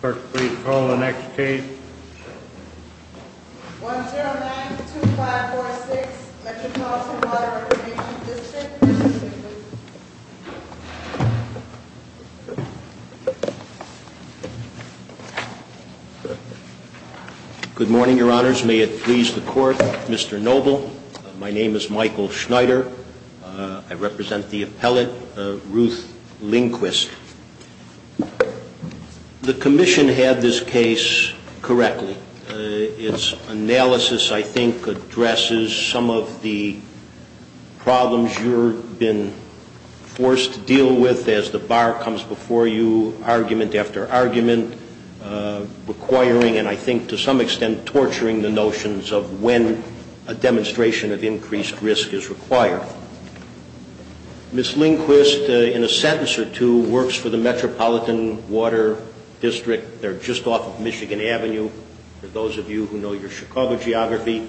Court, please call the next case. 1092546 Metropolitan Water Reclamation District Good morning, Your Honors. May it please the Court, Mr. Noble. My name is Michael Schneider. I represent the appellate, Ruth Lindquist. The Commission had this case correctly. Its analysis, I think, addresses some of the problems you've been forced to deal with as the bar comes before you, argument after argument, requiring, and I think to some extent torturing, the notions of when a demonstration of increased risk is required. Ms. Lindquist, in a sentence or two, works for the Metropolitan Water District. They're just off of Michigan Avenue, for those of you who know your Chicago geography.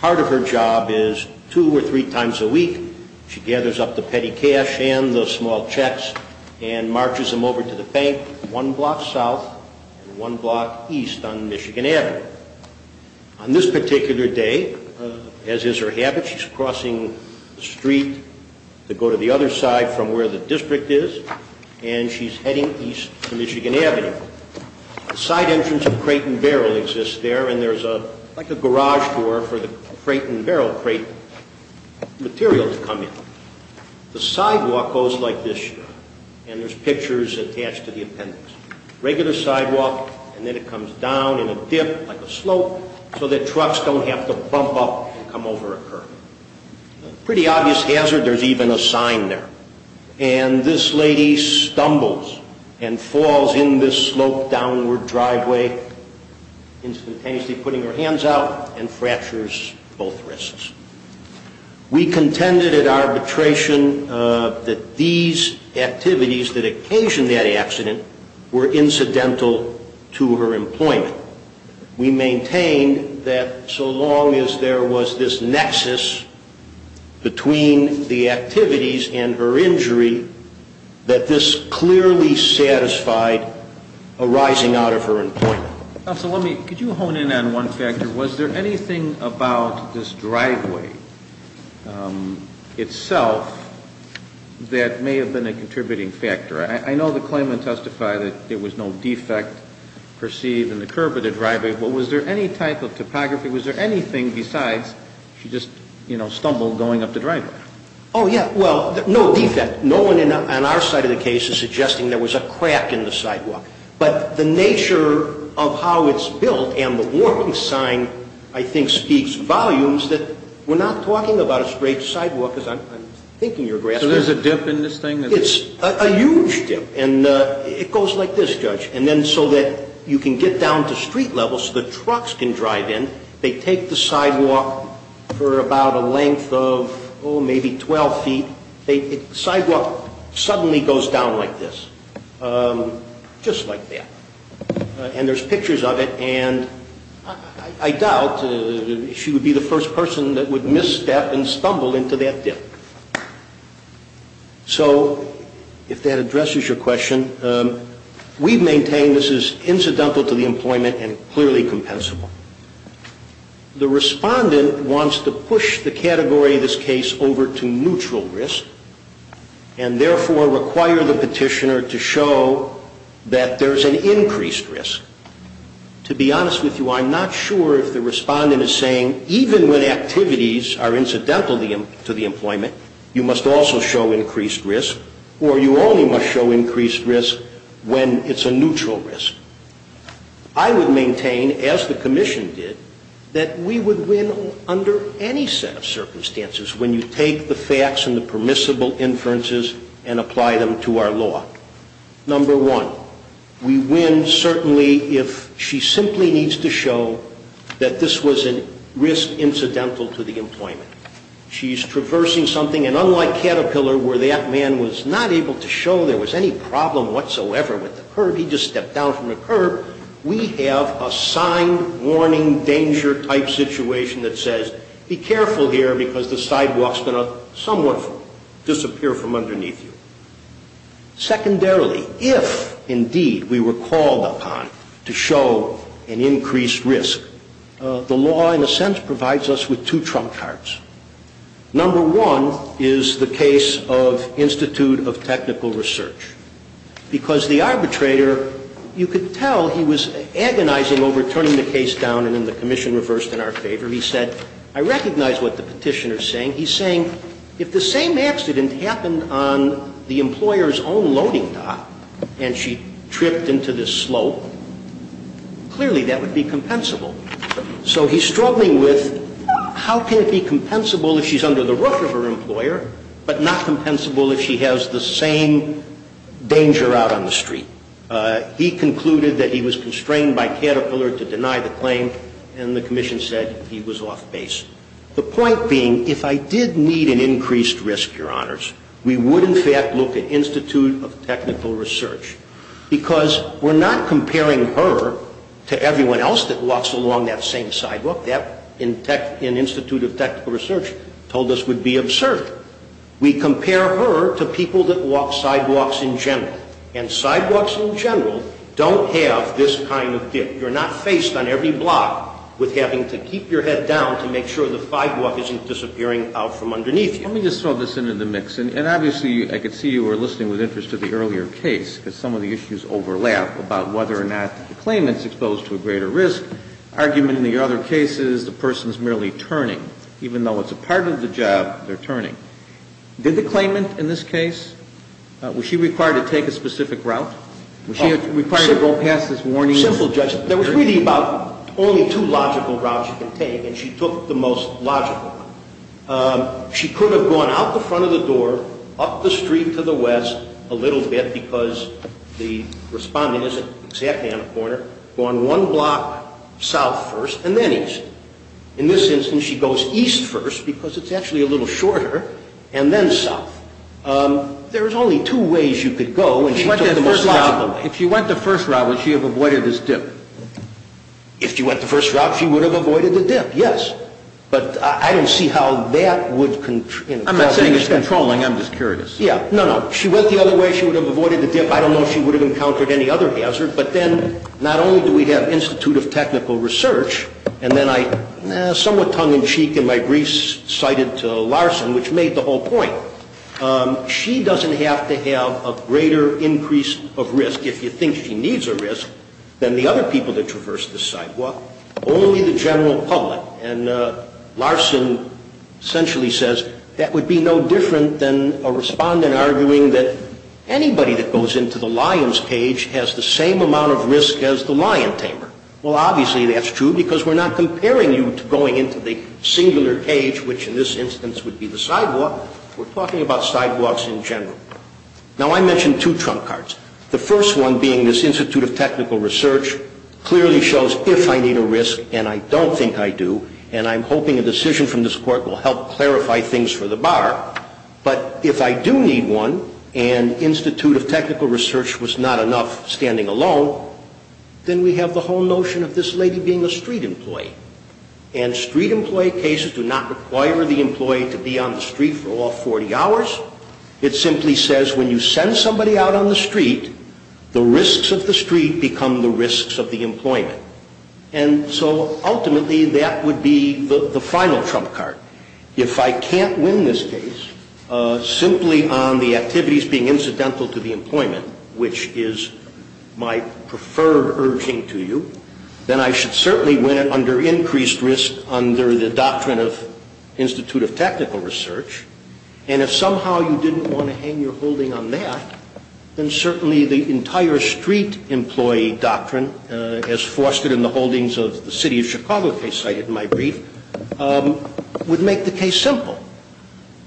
Part of her job is, two or three times a week, she gathers up the petty cash and the small checks and marches them over to the bank one block south and one block east on Michigan Avenue. On this particular day, as is her habit, she's crossing the street to go to the other side from where the district is, and she's heading east to Michigan Avenue. The side entrance of Crate and Barrel exists there, and there's like a garage door for the Crate and Barrel crate material to come in. The sidewalk goes like this, and there's pictures attached to the appendix. Regular sidewalk, and then it comes down in a dip, like a slope, so that trucks don't have to bump up and come over a curb. Pretty obvious hazard, there's even a sign there. And this lady stumbles and falls in this sloped downward driveway, instantaneously putting her hands out, and fractures both wrists. We contended at arbitration that these activities that occasioned that accident were incidental to her employment. We maintained that so long as there was this nexus between the activities and her injury, that this clearly satisfied a rising out of her employment. Counsel, let me, could you hone in on one factor? Was there anything about this driveway itself that may have been a contributing factor? I know the claimant testified that there was no defect perceived in the curb of the driveway, but was there any type of topography? Was there anything besides she just, you know, stumbled going up the driveway? Oh, yeah. Well, no defect. No one on our side of the case is suggesting there was a crack in the sidewalk. But the nature of how it's built and the warning sign, I think, speaks volumes that we're not talking about a straight sidewalk, as I'm thinking you're grasping. So there's a dip in this thing? It's a huge dip. And it goes like this, Judge. And then so that you can get down to street level so the trucks can drive in, they take the sidewalk for about a length of, oh, maybe 12 feet. The sidewalk suddenly goes down like this, just like that. And there's pictures of it, and I doubt she would be the first person that would misstep and stumble into that dip. So if that addresses your question, we've maintained this is incidental to the employment and clearly compensable. The respondent wants to push the category of this case over to neutral risk, and therefore require the petitioner to show that there's an increased risk. To be honest with you, I'm not sure if the respondent is saying even when activities are incidental to the employment, you must also show increased risk or you only must show increased risk when it's a neutral risk. I would maintain, as the commission did, that we would win under any set of circumstances when you take the facts and the permissible inferences and apply them to our law. Number one, we win certainly if she simply needs to show that this was a risk incidental to the employment. She's traversing something, and unlike Caterpillar where that man was not able to show there was any problem whatsoever with the curb, he just stepped down from the curb, we have a signed warning danger type situation that says, be careful here because the sidewalk's going to somewhat disappear from underneath you. Secondarily, if indeed we were called upon to show an increased risk, the law in a sense provides us with two trump cards. Number one is the case of Institute of Technical Research, because the arbitrator, you could tell he was agonizing over turning the case down, and the commission reversed in our favor. He said, I recognize what the Petitioner's saying. He's saying if the same accident happened on the employer's own loading dock and she tripped into this slope, clearly that would be compensable. So he's struggling with how can it be compensable if she's under the roof of her employer, but not compensable if she has the same danger out on the street. He concluded that he was constrained by Caterpillar to deny the claim, and the commission said he was off base. The point being, if I did need an increased risk, Your Honors, we would in fact look at Institute of Technical Research, because we're not comparing her to everyone else that walks along that same sidewalk. That, in Institute of Technical Research, told us would be absurd. We compare her to people that walk sidewalks in general. And sidewalks in general don't have this kind of dip. You're not faced on every block with having to keep your head down to make sure the sidewalk isn't disappearing out from underneath you. Let me just throw this into the mix. And obviously, I could see you were listening with interest to the earlier case, because some of the issues overlap about whether or not the claimant's exposed to a greater risk. The argument in the other case is the person's merely turning. Even though it's a part of the job, they're turning. Did the claimant in this case, was she required to take a specific route? Was she required to go past this warning? Simple, Judge. There was really about only two logical routes you could take, and she took the most logical one. She could have gone out the front of the door, up the street to the west a little bit, because the respondent isn't exactly on a corner, gone one block south first, and then east. In this instance, she goes east first, because it's actually a little shorter, and then south. There was only two ways you could go, and she took the most logical one. If she went the first route, would she have avoided this dip? If she went the first route, she would have avoided the dip, yes. But I don't see how that would control the incident. I'm not saying it's controlling. I'm just curious. Yeah. No, no. If she went the other way, she would have avoided the dip. I don't know if she would have encountered any other hazard. But then not only do we have Institute of Technical Research, and then I somewhat tongue-in-cheek in my briefs cited Larson, which made the whole point. She doesn't have to have a greater increase of risk, if you think she needs a risk, than the other people that traverse this sidewalk. Only the general public. And Larson essentially says, that would be no different than a respondent arguing that anybody that goes into the lion's cage has the same amount of risk as the lion tamer. Well, obviously that's true, because we're not comparing you to going into the singular cage, which in this instance would be the sidewalk. We're talking about sidewalks in general. Now, I mentioned two trump cards. The first one being this Institute of Technical Research clearly shows if I need a risk, and I don't think I do, and I'm hoping a decision from this Court will help clarify things for the bar. But if I do need one, and Institute of Technical Research was not enough standing alone, then we have the whole notion of this lady being a street employee. And street employee cases do not require the employee to be on the street for all 40 hours. It simply says when you send somebody out on the street, the risks of the street become the risks of the employment. And so ultimately, that would be the final trump card. If I can't win this case simply on the activities being incidental to the employment, which is my preferred urging to you, then I should certainly win it under increased risk under the doctrine of Institute of Technical Research. And if somehow you didn't want to hang your holding on that, then certainly the entire street employee doctrine, as fostered in the holdings of the City of Chicago case cited in my brief, would make the case simple.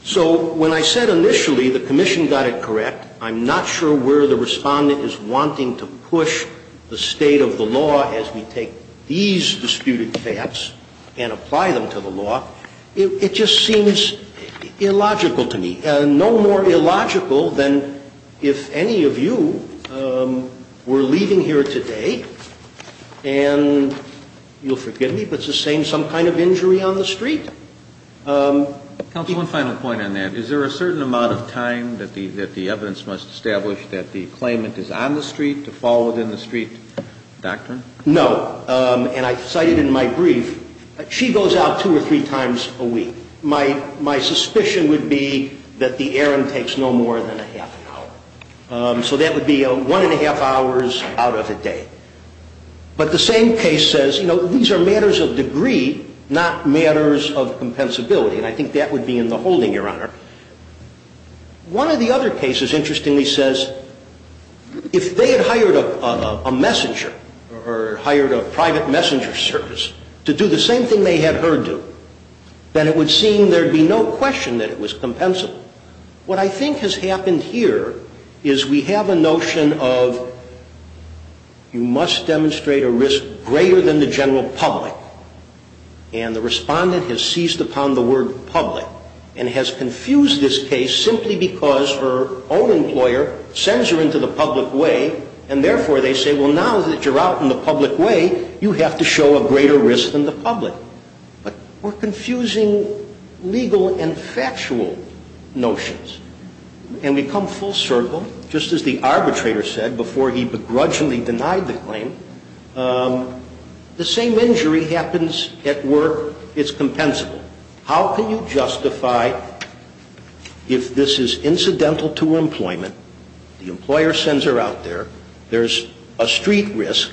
So when I said initially the commission got it correct, I'm not sure where the respondent is wanting to push the state of the law as we take these disputed facts and apply them to the law. It just seems illogical to me. No more illogical than if any of you were leaving here today, and you'll forgive me, but it's the same some kind of injury on the street. Counsel, one final point on that. Is there a certain amount of time that the evidence must establish that the claimant is on the street to fall within the street doctrine? No. And I cite it in my brief. She goes out two or three times a week. My suspicion would be that the errand takes no more than a half an hour. So that would be one and a half hours out of a day. But the same case says, you know, these are matters of degree, not matters of compensability. And I think that would be in the holding, Your Honor. One of the other cases, interestingly, says if they had hired a messenger or hired a private messenger service to do the same thing they had her do, then it would seem there would be no question that it was compensable. What I think has happened here is we have a notion of you must demonstrate a risk greater than the general public. And the respondent has seized upon the word public and has confused this case simply because her own employer sends her into the public way, and therefore they say, well, now that you're out in the public way, you have to show a greater risk than the public. But we're confusing legal and factual notions. And we come full circle. Just as the arbitrator said before he begrudgingly denied the claim, the same injury happens at work. It's compensable. How can you justify if this is incidental to employment, the employer sends her out there, there's a street risk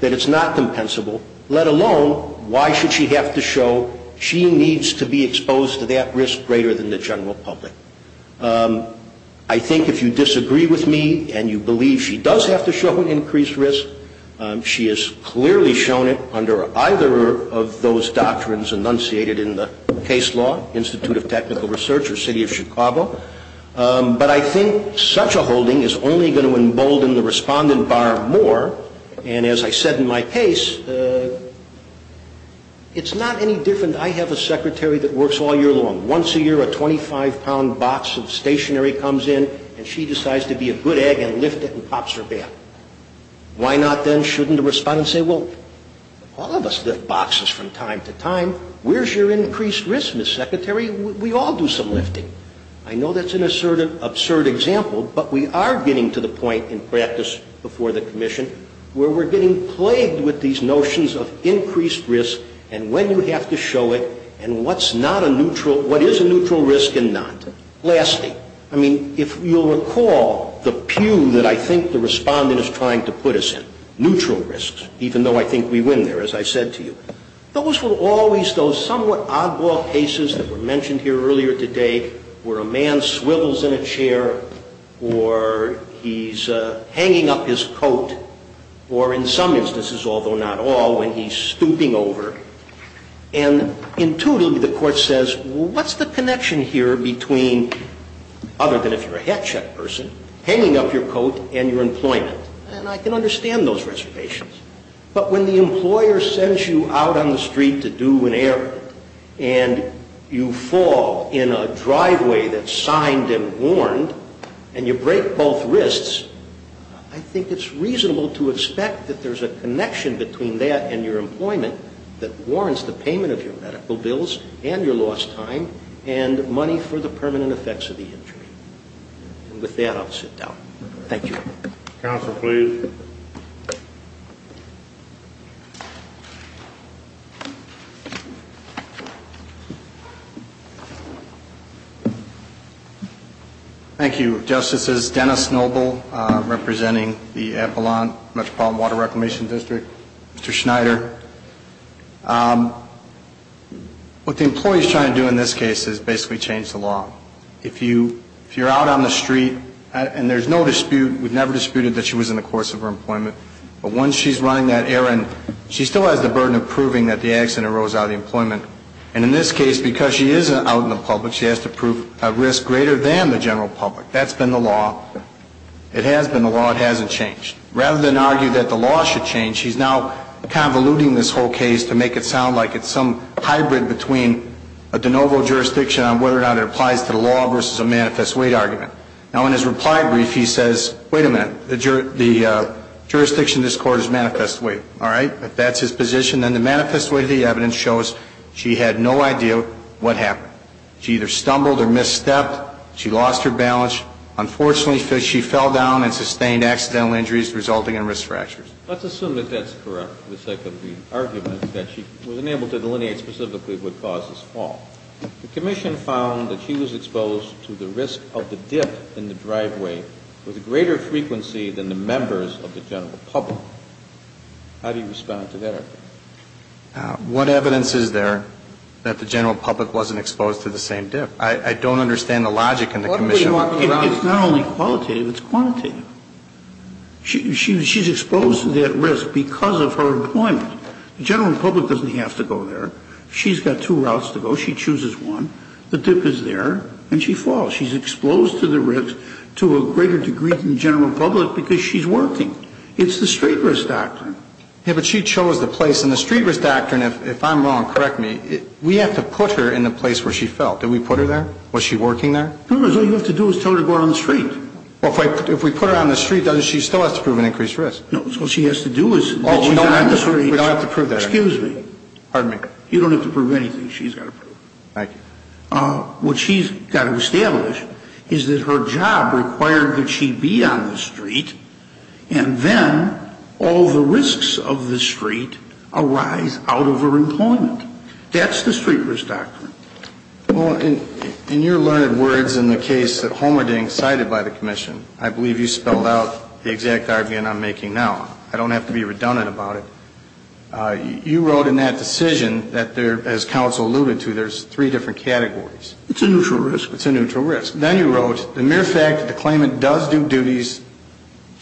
that it's not compensable, let alone why should she have to show she needs to be exposed to that risk greater than the general public? I think if you disagree with me and you believe she does have to show an increased risk, she has clearly shown it under either of those doctrines enunciated in the case law, Institute of Technical Research or City of Chicago. But I think such a holding is only going to embolden the respondent bar more. And as I said in my case, it's not any different. I have a secretary that works all year long. Once a year a 25-pound box of stationery comes in and she decides to be a good egg and lift it and pops her back. Why not then shouldn't a respondent say, well, all of us lift boxes from time to time. Where's your increased risk, Ms. Secretary? We all do some lifting. I know that's an absurd example, but we are getting to the point in practice before the commission where we're getting plagued with these notions of increased risk and when you have to show it and what is a neutral risk and not. Lastly, I mean, if you'll recall the pew that I think the respondent is trying to put us in, neutral risks, even though I think we win there, as I said to you, those will always, those somewhat oddball cases that were mentioned here earlier today where a man swivels in a chair or he's hanging up his coat or in some instances, although not all, when he's stooping over and intuitively the court says, what's the connection here between, other than if you're a hat check person, hanging up your coat and your employment? And I can understand those reservations. But when the employer sends you out on the street to do an errand and you fall in a driveway that's signed and warned and you break both wrists, I think it's reasonable to expect that there's a connection between that and your employment that warrants the payment of your medical bills and your lost time and money for the permanent effects of the injury. And with that, I'll sit down. Thank you. Counsel, please. Thank you, Justices. Dennis Noble representing the Epelon Metropolitan Water Reclamation District. Mr. Schneider. What the employee is trying to do in this case is basically change the law. If you're out on the street and there's no dispute, we've never disputed that she was in the course of her employment, but once she's running that errand, she still has the burden of proving that the accident arose out of employment. And in this case, because she is out in the public, she has to prove a risk greater than the general public. That's been the law. It has been the law. It hasn't changed. Rather than argue that the law should change, she's now convoluting this whole case to make it sound like it's some hybrid between a de novo jurisdiction on whether or not it applies to the law versus a manifest weight argument. Now, in his reply brief, he says, wait a minute. The jurisdiction in this court is manifest weight. All right? If that's his position, then the manifest weight of the evidence shows she had no idea what happened. She either stumbled or misstepped. She lost her balance. Unfortunately, she fell down and sustained accidental injuries resulting in risk fractures. Let's assume that that's correct, that she was unable to delineate specifically what caused this fall. The commission found that she was exposed to the risk of the dip in the driveway with a greater frequency than the members of the general public. How do you respond to that argument? What evidence is there that the general public wasn't exposed to the same dip? I don't understand the logic in the commission. It's not only qualitative. It's quantitative. She's exposed to that risk because of her employment. The general public doesn't have to go there. She's got two routes to go. She chooses one. The dip is there, and she falls. She's exposed to the risk to a greater degree than the general public because she's working. It's the street risk doctrine. Yeah, but she chose the place. And the street risk doctrine, if I'm wrong, correct me, we have to put her in the place where she fell. Did we put her there? Was she working there? No, because all you have to do is tell her to go out on the street. Well, if we put her on the street, she still has to prove an increased risk. No, so what she has to do is that she's on the street. Oh, we don't have to prove that. Excuse me. Pardon me. You don't have to prove anything. She's got to prove it. Thank you. What she's got to establish is that her job required that she be on the street, and then all the risks of the street arise out of her employment. That's the street risk doctrine. Well, in your learned words in the case that Holmerding cited by the commission, I believe you spelled out the exact argument I'm making now. I don't have to be redundant about it. You wrote in that decision that there, as counsel alluded to, there's three different categories. It's a neutral risk. It's a neutral risk. Then you wrote the mere fact that the claimant does do duties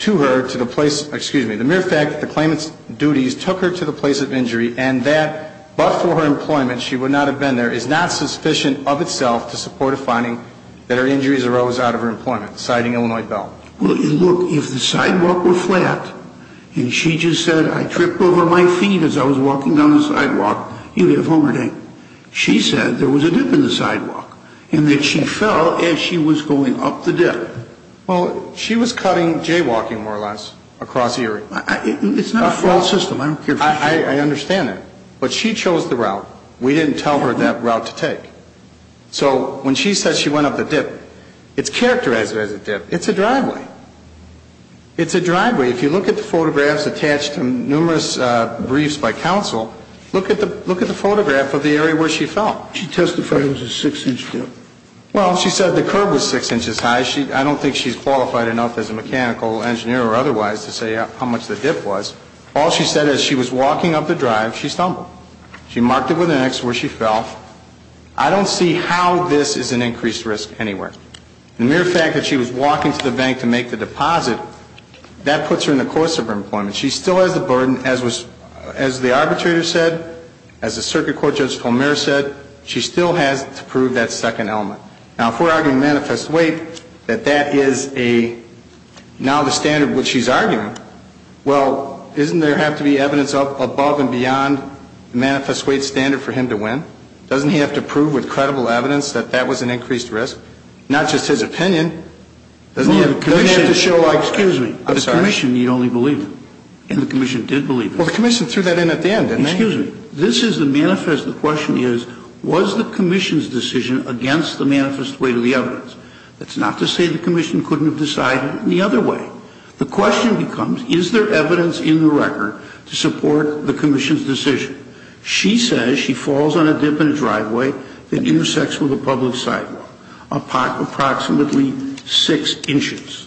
to her to the place of, excuse me, the mere fact that the claimant's duties took her to the place of injury and that, but for her employment, she would not have been there, is not sufficient of itself to support a finding that her injuries arose out of her employment, citing Illinois Bell. Well, look, if the sidewalk were flat and she just said, I tripped over my feet as I was walking down the sidewalk, you'd have Holmerding. She said there was a dip in the sidewalk and that she fell as she was going up the dip. Well, she was cutting jaywalking, more or less, across the area. It's not a false system. I understand that. But she chose the route. We didn't tell her that route to take. So when she says she went up the dip, it's characterized as a dip. It's a driveway. It's a driveway. If you look at the photographs attached to numerous briefs by counsel, look at the photograph of the area where she fell. She testified it was a six-inch dip. Well, she said the curb was six inches high. I don't think she's qualified enough as a mechanical engineer or otherwise to say how much the dip was. All she said as she was walking up the drive, she stumbled. She marked it with an X where she fell. I don't see how this is an increased risk anywhere. The mere fact that she was walking to the bank to make the deposit, that puts her in the course of her employment. She still has the burden, as the arbitrator said, as the circuit court judge Holmer said, she still has to prove that second element. Now, if we're arguing manifest weight, that that is now the standard of what she's arguing, well, doesn't there have to be evidence above and beyond the manifest weight standard for him to win? Doesn't he have to prove with credible evidence that that was an increased risk? Not just his opinion. Doesn't he have to show like that? Excuse me. I'm sorry. The commission, you'd only believe it. And the commission did believe it. Well, the commission threw that in at the end, didn't they? Excuse me. This is the manifest. The question is, was the commission's decision against the manifest weight of the evidence? That's not to say the commission couldn't have decided it any other way. The question becomes, is there evidence in the record to support the commission's decision? She says she falls on a dip in a driveway that intersects with a public sidewalk approximately six inches.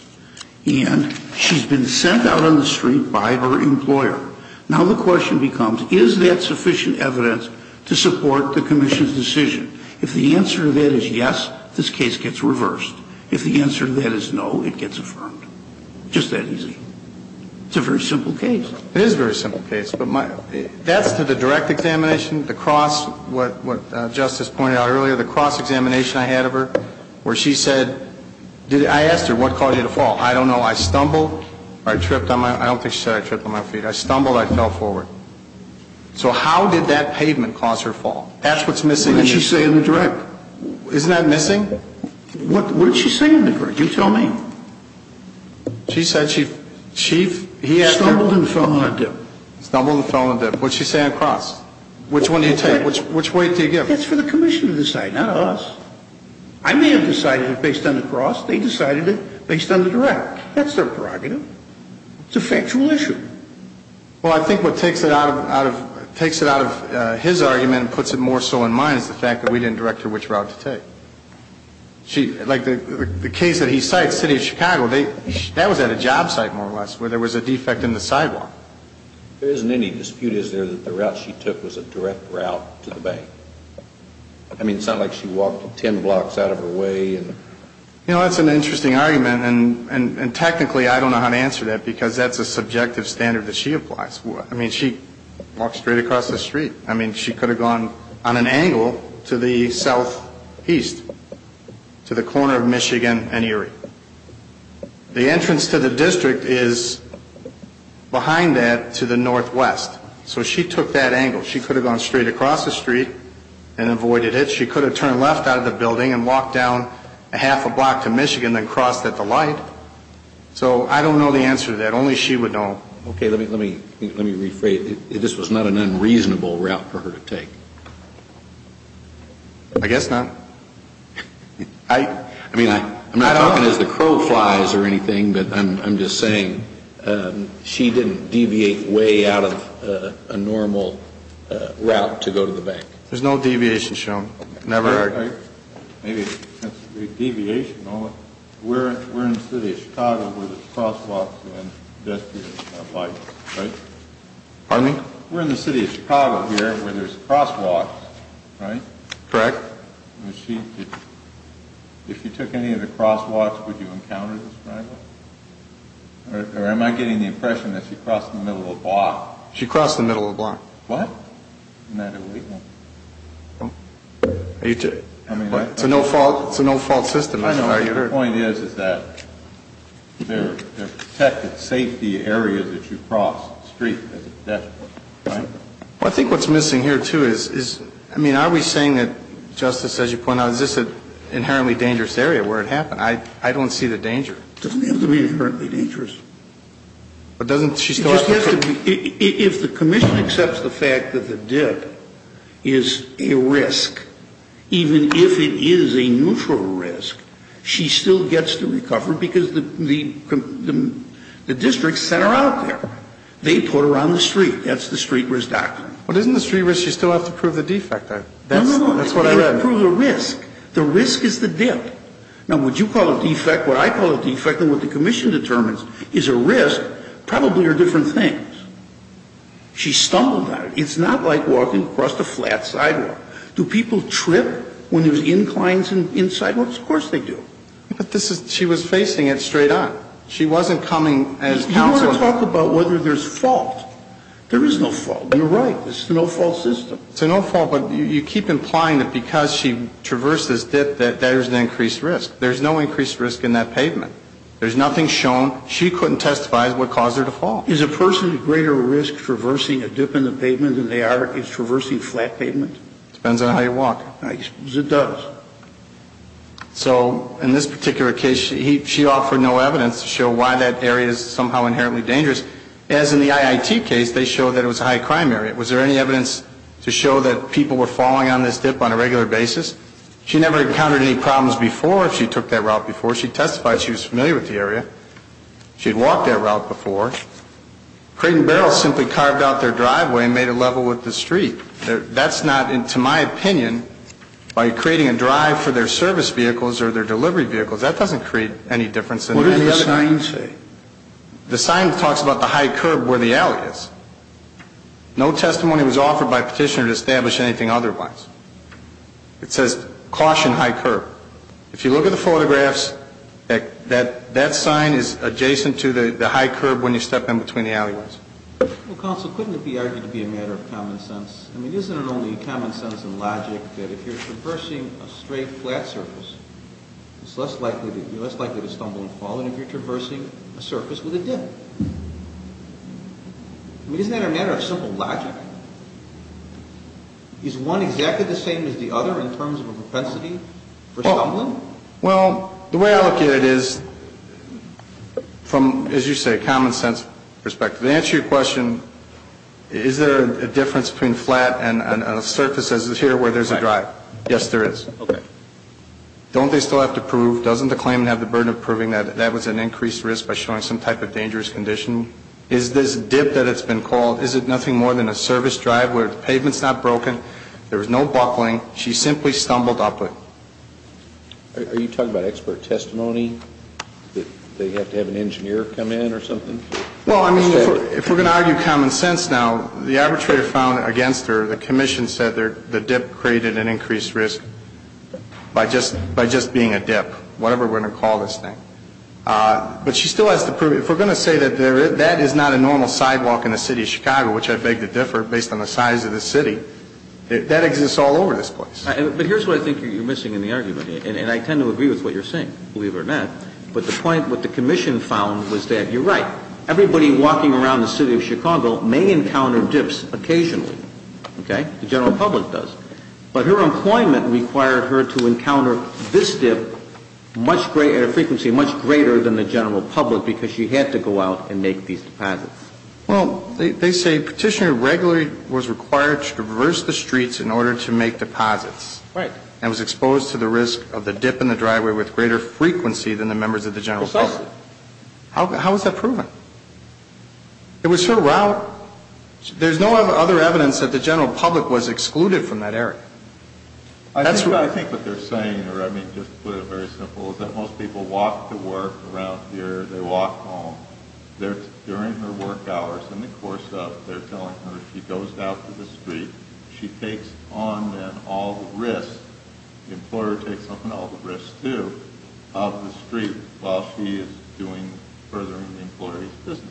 And she's been sent out on the street by her employer. Now the question becomes, is that sufficient evidence to support the commission's decision? If the answer to that is yes, this case gets reversed. If the answer to that is no, it gets affirmed. Just that easy. It's a very simple case. It is a very simple case. But that's to the direct examination, the cross, what Justice pointed out earlier, the cross examination I had of her where she said, I asked her, what caused you to fall? I don't know. I stumbled. I tripped. I don't think she said I tripped on my feet. I stumbled. I fell forward. So how did that pavement cause her fall? That's what's missing. That's what you say in the direct. Isn't that missing? What did she say in the direct? You tell me. She said she stumbled and fell on a dip. Stumbled and fell on a dip. What did she say on the cross? Which one do you take? Which weight do you give? That's for the commission to decide, not us. I may have decided it based on the cross. They decided it based on the direct. That's their prerogative. It's a factual issue. Well, I think what takes it out of his argument and puts it more so in mine is the fact that we didn't direct her which route to take. Like the case that he cites, City of Chicago, that was at a job site more or less where there was a defect in the sidewalk. There isn't any dispute, is there, that the route she took was a direct route to the bank? I mean, it's not like she walked 10 blocks out of her way. You know, that's an interesting argument, and technically I don't know how to answer that because that's a subjective standard that she applies. I mean, she could have gone on an angle to the southeast, to the corner of Michigan and Erie. The entrance to the district is behind that to the northwest. So she took that angle. She could have gone straight across the street and avoided it. She could have turned left out of the building and walked down a half a block to Michigan and crossed at the light. So I don't know the answer to that. Only she would know. Okay, let me rephrase. This was not an unreasonable route for her to take. I guess not. I mean, I'm not talking as the crow flies or anything, but I'm just saying she didn't deviate way out of a normal route to go to the bank. There's no deviation shown. Never heard. Deviation. We're in the city of Chicago where there's crosswalks. We're in the city of Chicago here where there's crosswalks, right? Correct. If you took any of the crosswalks, would you encounter this? Or am I getting the impression that she crossed the middle of a block? She crossed the middle of a block. What? It's a no-fault system. I know. The point is, is that they're protected safety areas that you cross the street. Well, I think what's missing here, too, is, I mean, are we saying that, Justice, as you point out, is this an inherently dangerous area where it happened? I don't see the danger. It doesn't have to be inherently dangerous. But doesn't she still have to be? If the commission accepts the fact that the dip is a risk, even if it is a neutral risk, she still gets to recover because the district sent her out there. They put her on the street. That's the street risk doctrine. But isn't the street risk you still have to prove the defect? No, no, no. That's what I read. You have to prove the risk. The risk is the dip. Now, what you call a defect, what I call a defect, and what the commission determines is a risk, probably are different things. She stumbled on it. It's not like walking across the flat sidewalk. Do people trip when there's inclines in sidewalks? Of course they do. But this is, she was facing it straight on. She wasn't coming as counseling. You want to talk about whether there's fault. There is no fault. You're right. It's a no-fault system. It's a no-fault, but you keep implying that because she traversed this dip that there's an increased risk. There's no increased risk in that pavement. There's nothing shown. She couldn't testify as what caused her to fall. Is a person at greater risk traversing a dip in the pavement than they are traversing flat pavement? Depends on how you walk. It does. So in this particular case, she offered no evidence to show why that area is somehow inherently dangerous. As in the IIT case, they showed that it was a high-crime area. Was there any evidence to show that people were falling on this dip on a regular basis? She never encountered any problems before if she took that route before. She testified she was familiar with the area. She had walked that route before. Crate and barrel simply carved out their driveway and made it level with the street. That's not, to my opinion, by creating a drive for their service vehicles or their delivery vehicles. That doesn't create any difference. What did the sign say? The sign talks about the high curb where the alley is. No testimony was offered by petitioner to establish anything otherwise. It says, caution high curb. If you look at the photographs, that sign is adjacent to the high curb when you step in between the alleyways. Well, counsel, couldn't it be argued to be a matter of common sense? I mean, isn't it only common sense and logic that if you're traversing a straight, flat surface, you're less likely to stumble and fall than if you're traversing a surface with a dip? I mean, isn't that a matter of simple logic? Is one exactly the same as the other in terms of a propensity for stumbling? Well, the way I look at it is from, as you say, a common sense perspective. To answer your question, is there a difference between flat and a surface as is here where there's a drive? Yes, there is. Okay. Don't they still have to prove? Doesn't the claimant have the burden of proving that that was an increased risk by showing some type of dangerous condition? Is this dip that it's been called, is it nothing more than a surface drive where the pavement's not broken, there was no buckling, she simply stumbled upward? Are you talking about expert testimony, that they have to have an engineer come in or something? Well, I mean, if we're going to argue common sense now, the arbitrator found against her, the commission said the dip created an increased risk by just being a dip, whatever we're going to call this thing. But she still has to prove it. If we're going to say that that is not a normal sidewalk in the city of Chicago, which I beg to differ based on the size of the city, that exists all over this place. But here's what I think you're missing in the argument, and I tend to agree with what you're saying, believe it or not. But the point what the commission found was that you're right. Everybody walking around the city of Chicago may encounter dips occasionally. Okay? The general public does. But her employment required her to encounter this dip at a frequency much greater than the general public because she had to go out and make these deposits. Well, they say Petitioner regularly was required to traverse the streets in order to make deposits. Right. And was exposed to the risk of the dip in the driveway with greater frequency than the members of the general public. Precisely. How is that proven? It was her route. There's no other evidence that the general public was excluded from that area. I think what they're saying, or I mean just to put it very simply, is that most people walk to work around here, they walk home. During her work hours, in the course of, they're telling her she goes out to the street, she takes on then all the risk, the employer takes on all the risk too, of the street while she is doing, furthering the employer's business.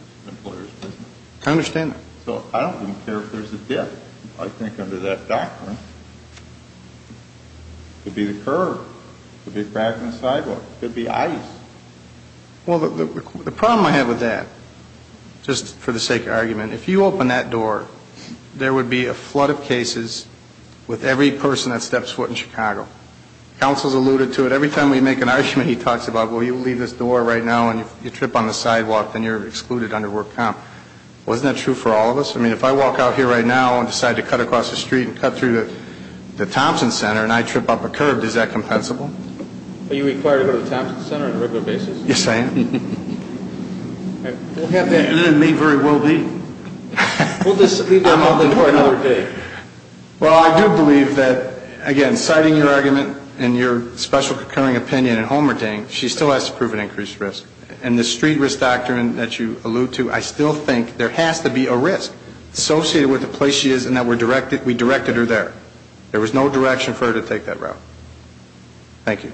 I understand that. So I don't even care if there's a dip. I think under that doctrine, it could be the curb. It could be a crack in the sidewalk. It could be ice. Well, the problem I have with that, just for the sake of argument, if you open that door, there would be a flood of cases with every person that steps foot in Chicago. Counsel's alluded to it. Every time we make an argument, he talks about, well, you leave this door right now and you trip on the sidewalk, then you're excluded under work comp. Well, isn't that true for all of us? I mean, if I walk out here right now and decide to cut across the street and cut through the Thompson Center and I trip up a curb, is that compensable? Are you required to go to the Thompson Center on a regular basis? Yes, I am. It may very well be. We'll just leave that open for another day. Well, I do believe that, again, citing your argument and your special concurring opinion in Homer Dang, she still has to prove an increased risk. And the street risk doctrine that you allude to, I still think there has to be a risk associated with the place she is and that we directed her there. There was no direction for her to take that route. Thank you.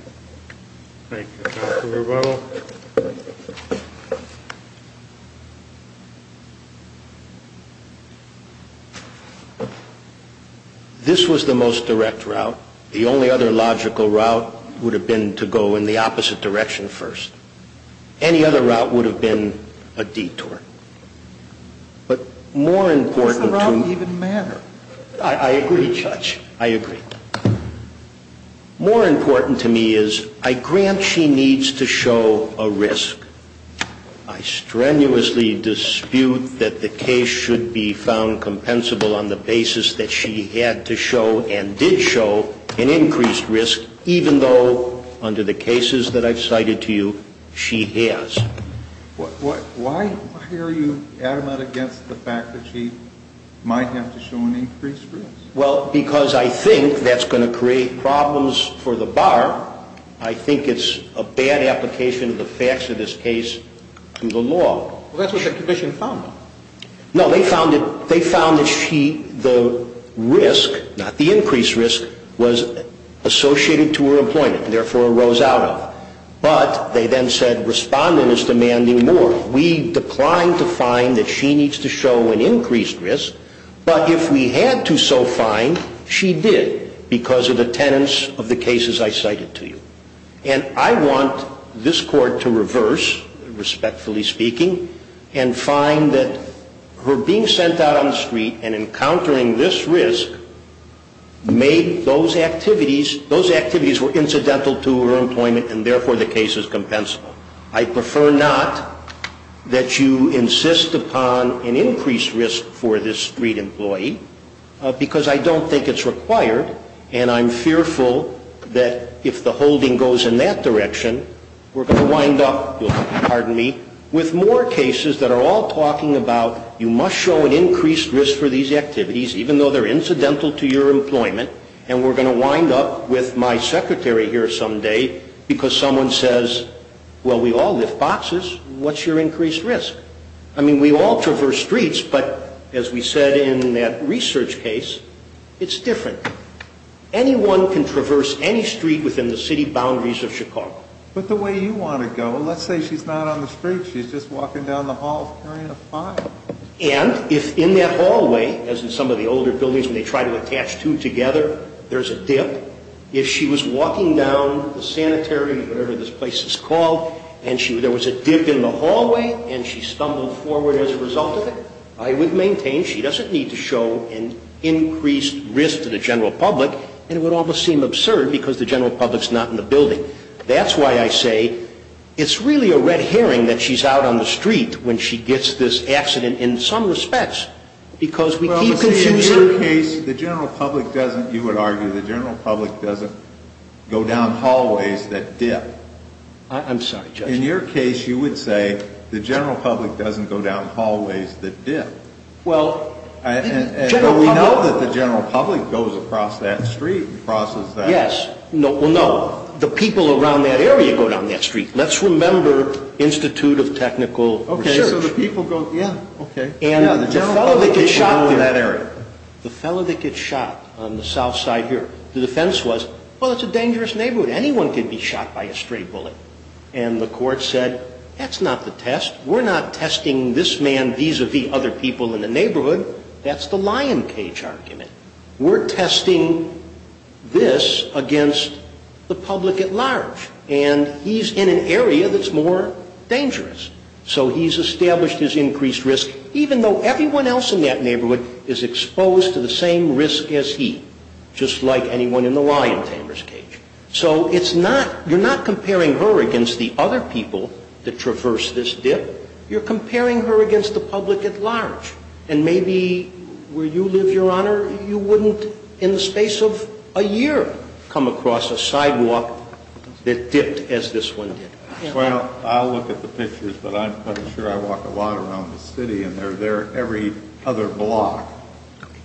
Thank you. Dr. Rubato? This was the most direct route. The only other logical route would have been to go in the opposite direction first. Any other route would have been a detour. But more important to me. Does the route even matter? I agree, Judge. I agree. More important to me is I grant she needs to show a risk. I strenuously dispute that the case should be found compensable on the basis that she had to show and did show an increased risk, even though, under the cases that I've cited to you, she has. Why are you adamant against the fact that she might have to show an increased risk? Well, because I think that's going to create problems for the bar. I think it's a bad application of the facts of this case to the law. Well, that's what the commission found. No, they found that she, the risk, not the increased risk, was associated to her employment, and therefore rose out of it. But they then said respondent is demanding more. We declined to find that she needs to show an increased risk. But if we had to so find, she did because of the tenets of the cases I cited to you. And I want this court to reverse, respectfully speaking, and find that her being sent out on the street and encountering this risk made those activities, those activities were incidental to her employment, and therefore the case is compensable. I prefer not that you insist upon an increased risk for this street employee because I don't think it's required. And I'm fearful that if the holding goes in that direction, we're going to wind up, pardon me, with more cases that are all talking about you must show an increased risk for these activities, even though they're incidental to your employment, and we're going to wind up with my secretary here someday because someone says, well, we all lift boxes. What's your increased risk? I mean, we all traverse streets, but as we said in that research case, it's different. Anyone can traverse any street within the city boundaries of Chicago. But the way you want to go, let's say she's not on the street. She's just walking down the hall carrying a file. And if in that hallway, as in some of the older buildings when they try to attach two together, there's a dip, if she was walking down the sanitary, whatever this place is called, and there was a dip in the hallway and she stumbled forward as a result of it, I would maintain she doesn't need to show an increased risk to the general public, and it would almost seem absurd because the general public's not in the building. That's why I say it's really a red herring that she's out on the street when she gets this accident in some respects because we keep confusing. Well, let's say in your case, the general public doesn't, you would argue, the general public doesn't go down hallways that dip. I'm sorry, Judge. In your case, you would say the general public doesn't go down hallways that dip. Well, general public. But we know that the general public goes across that street and crosses that. Yes. Well, no. The people around that area go down that street. Let's remember Institute of Technical Research. Okay. So the people go, yeah, okay. And the fellow that gets shot there, the fellow that gets shot on the south side here, the defense was, well, it's a dangerous neighborhood. Anyone can be shot by a stray bullet. And the court said, that's not the test. We're not testing this man vis-a-vis other people in the neighborhood. That's the lion cage argument. We're testing this against the public at large. And he's in an area that's more dangerous. So he's established his increased risk, even though everyone else in that neighborhood is exposed to the same risk as he, just like anyone in the lion tamer's cage. So it's not, you're not comparing her against the other people that traverse this dip. You're comparing her against the public at large. And maybe where you live, Your Honor, you wouldn't in the space of a year come across a sidewalk that dipped as this one did. Well, I'll look at the pictures, but I'm pretty sure I walk a lot around the city, and they're there every other block,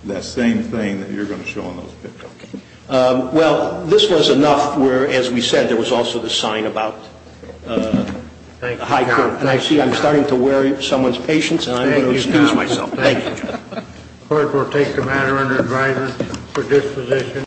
that same thing that you're going to show in those pictures. Well, this was enough where, as we said, there was also the sign about high court. And I see I'm starting to wear someone's patience. I'm going to excuse myself. Thank you. The court will take the matter under advisory for disposition.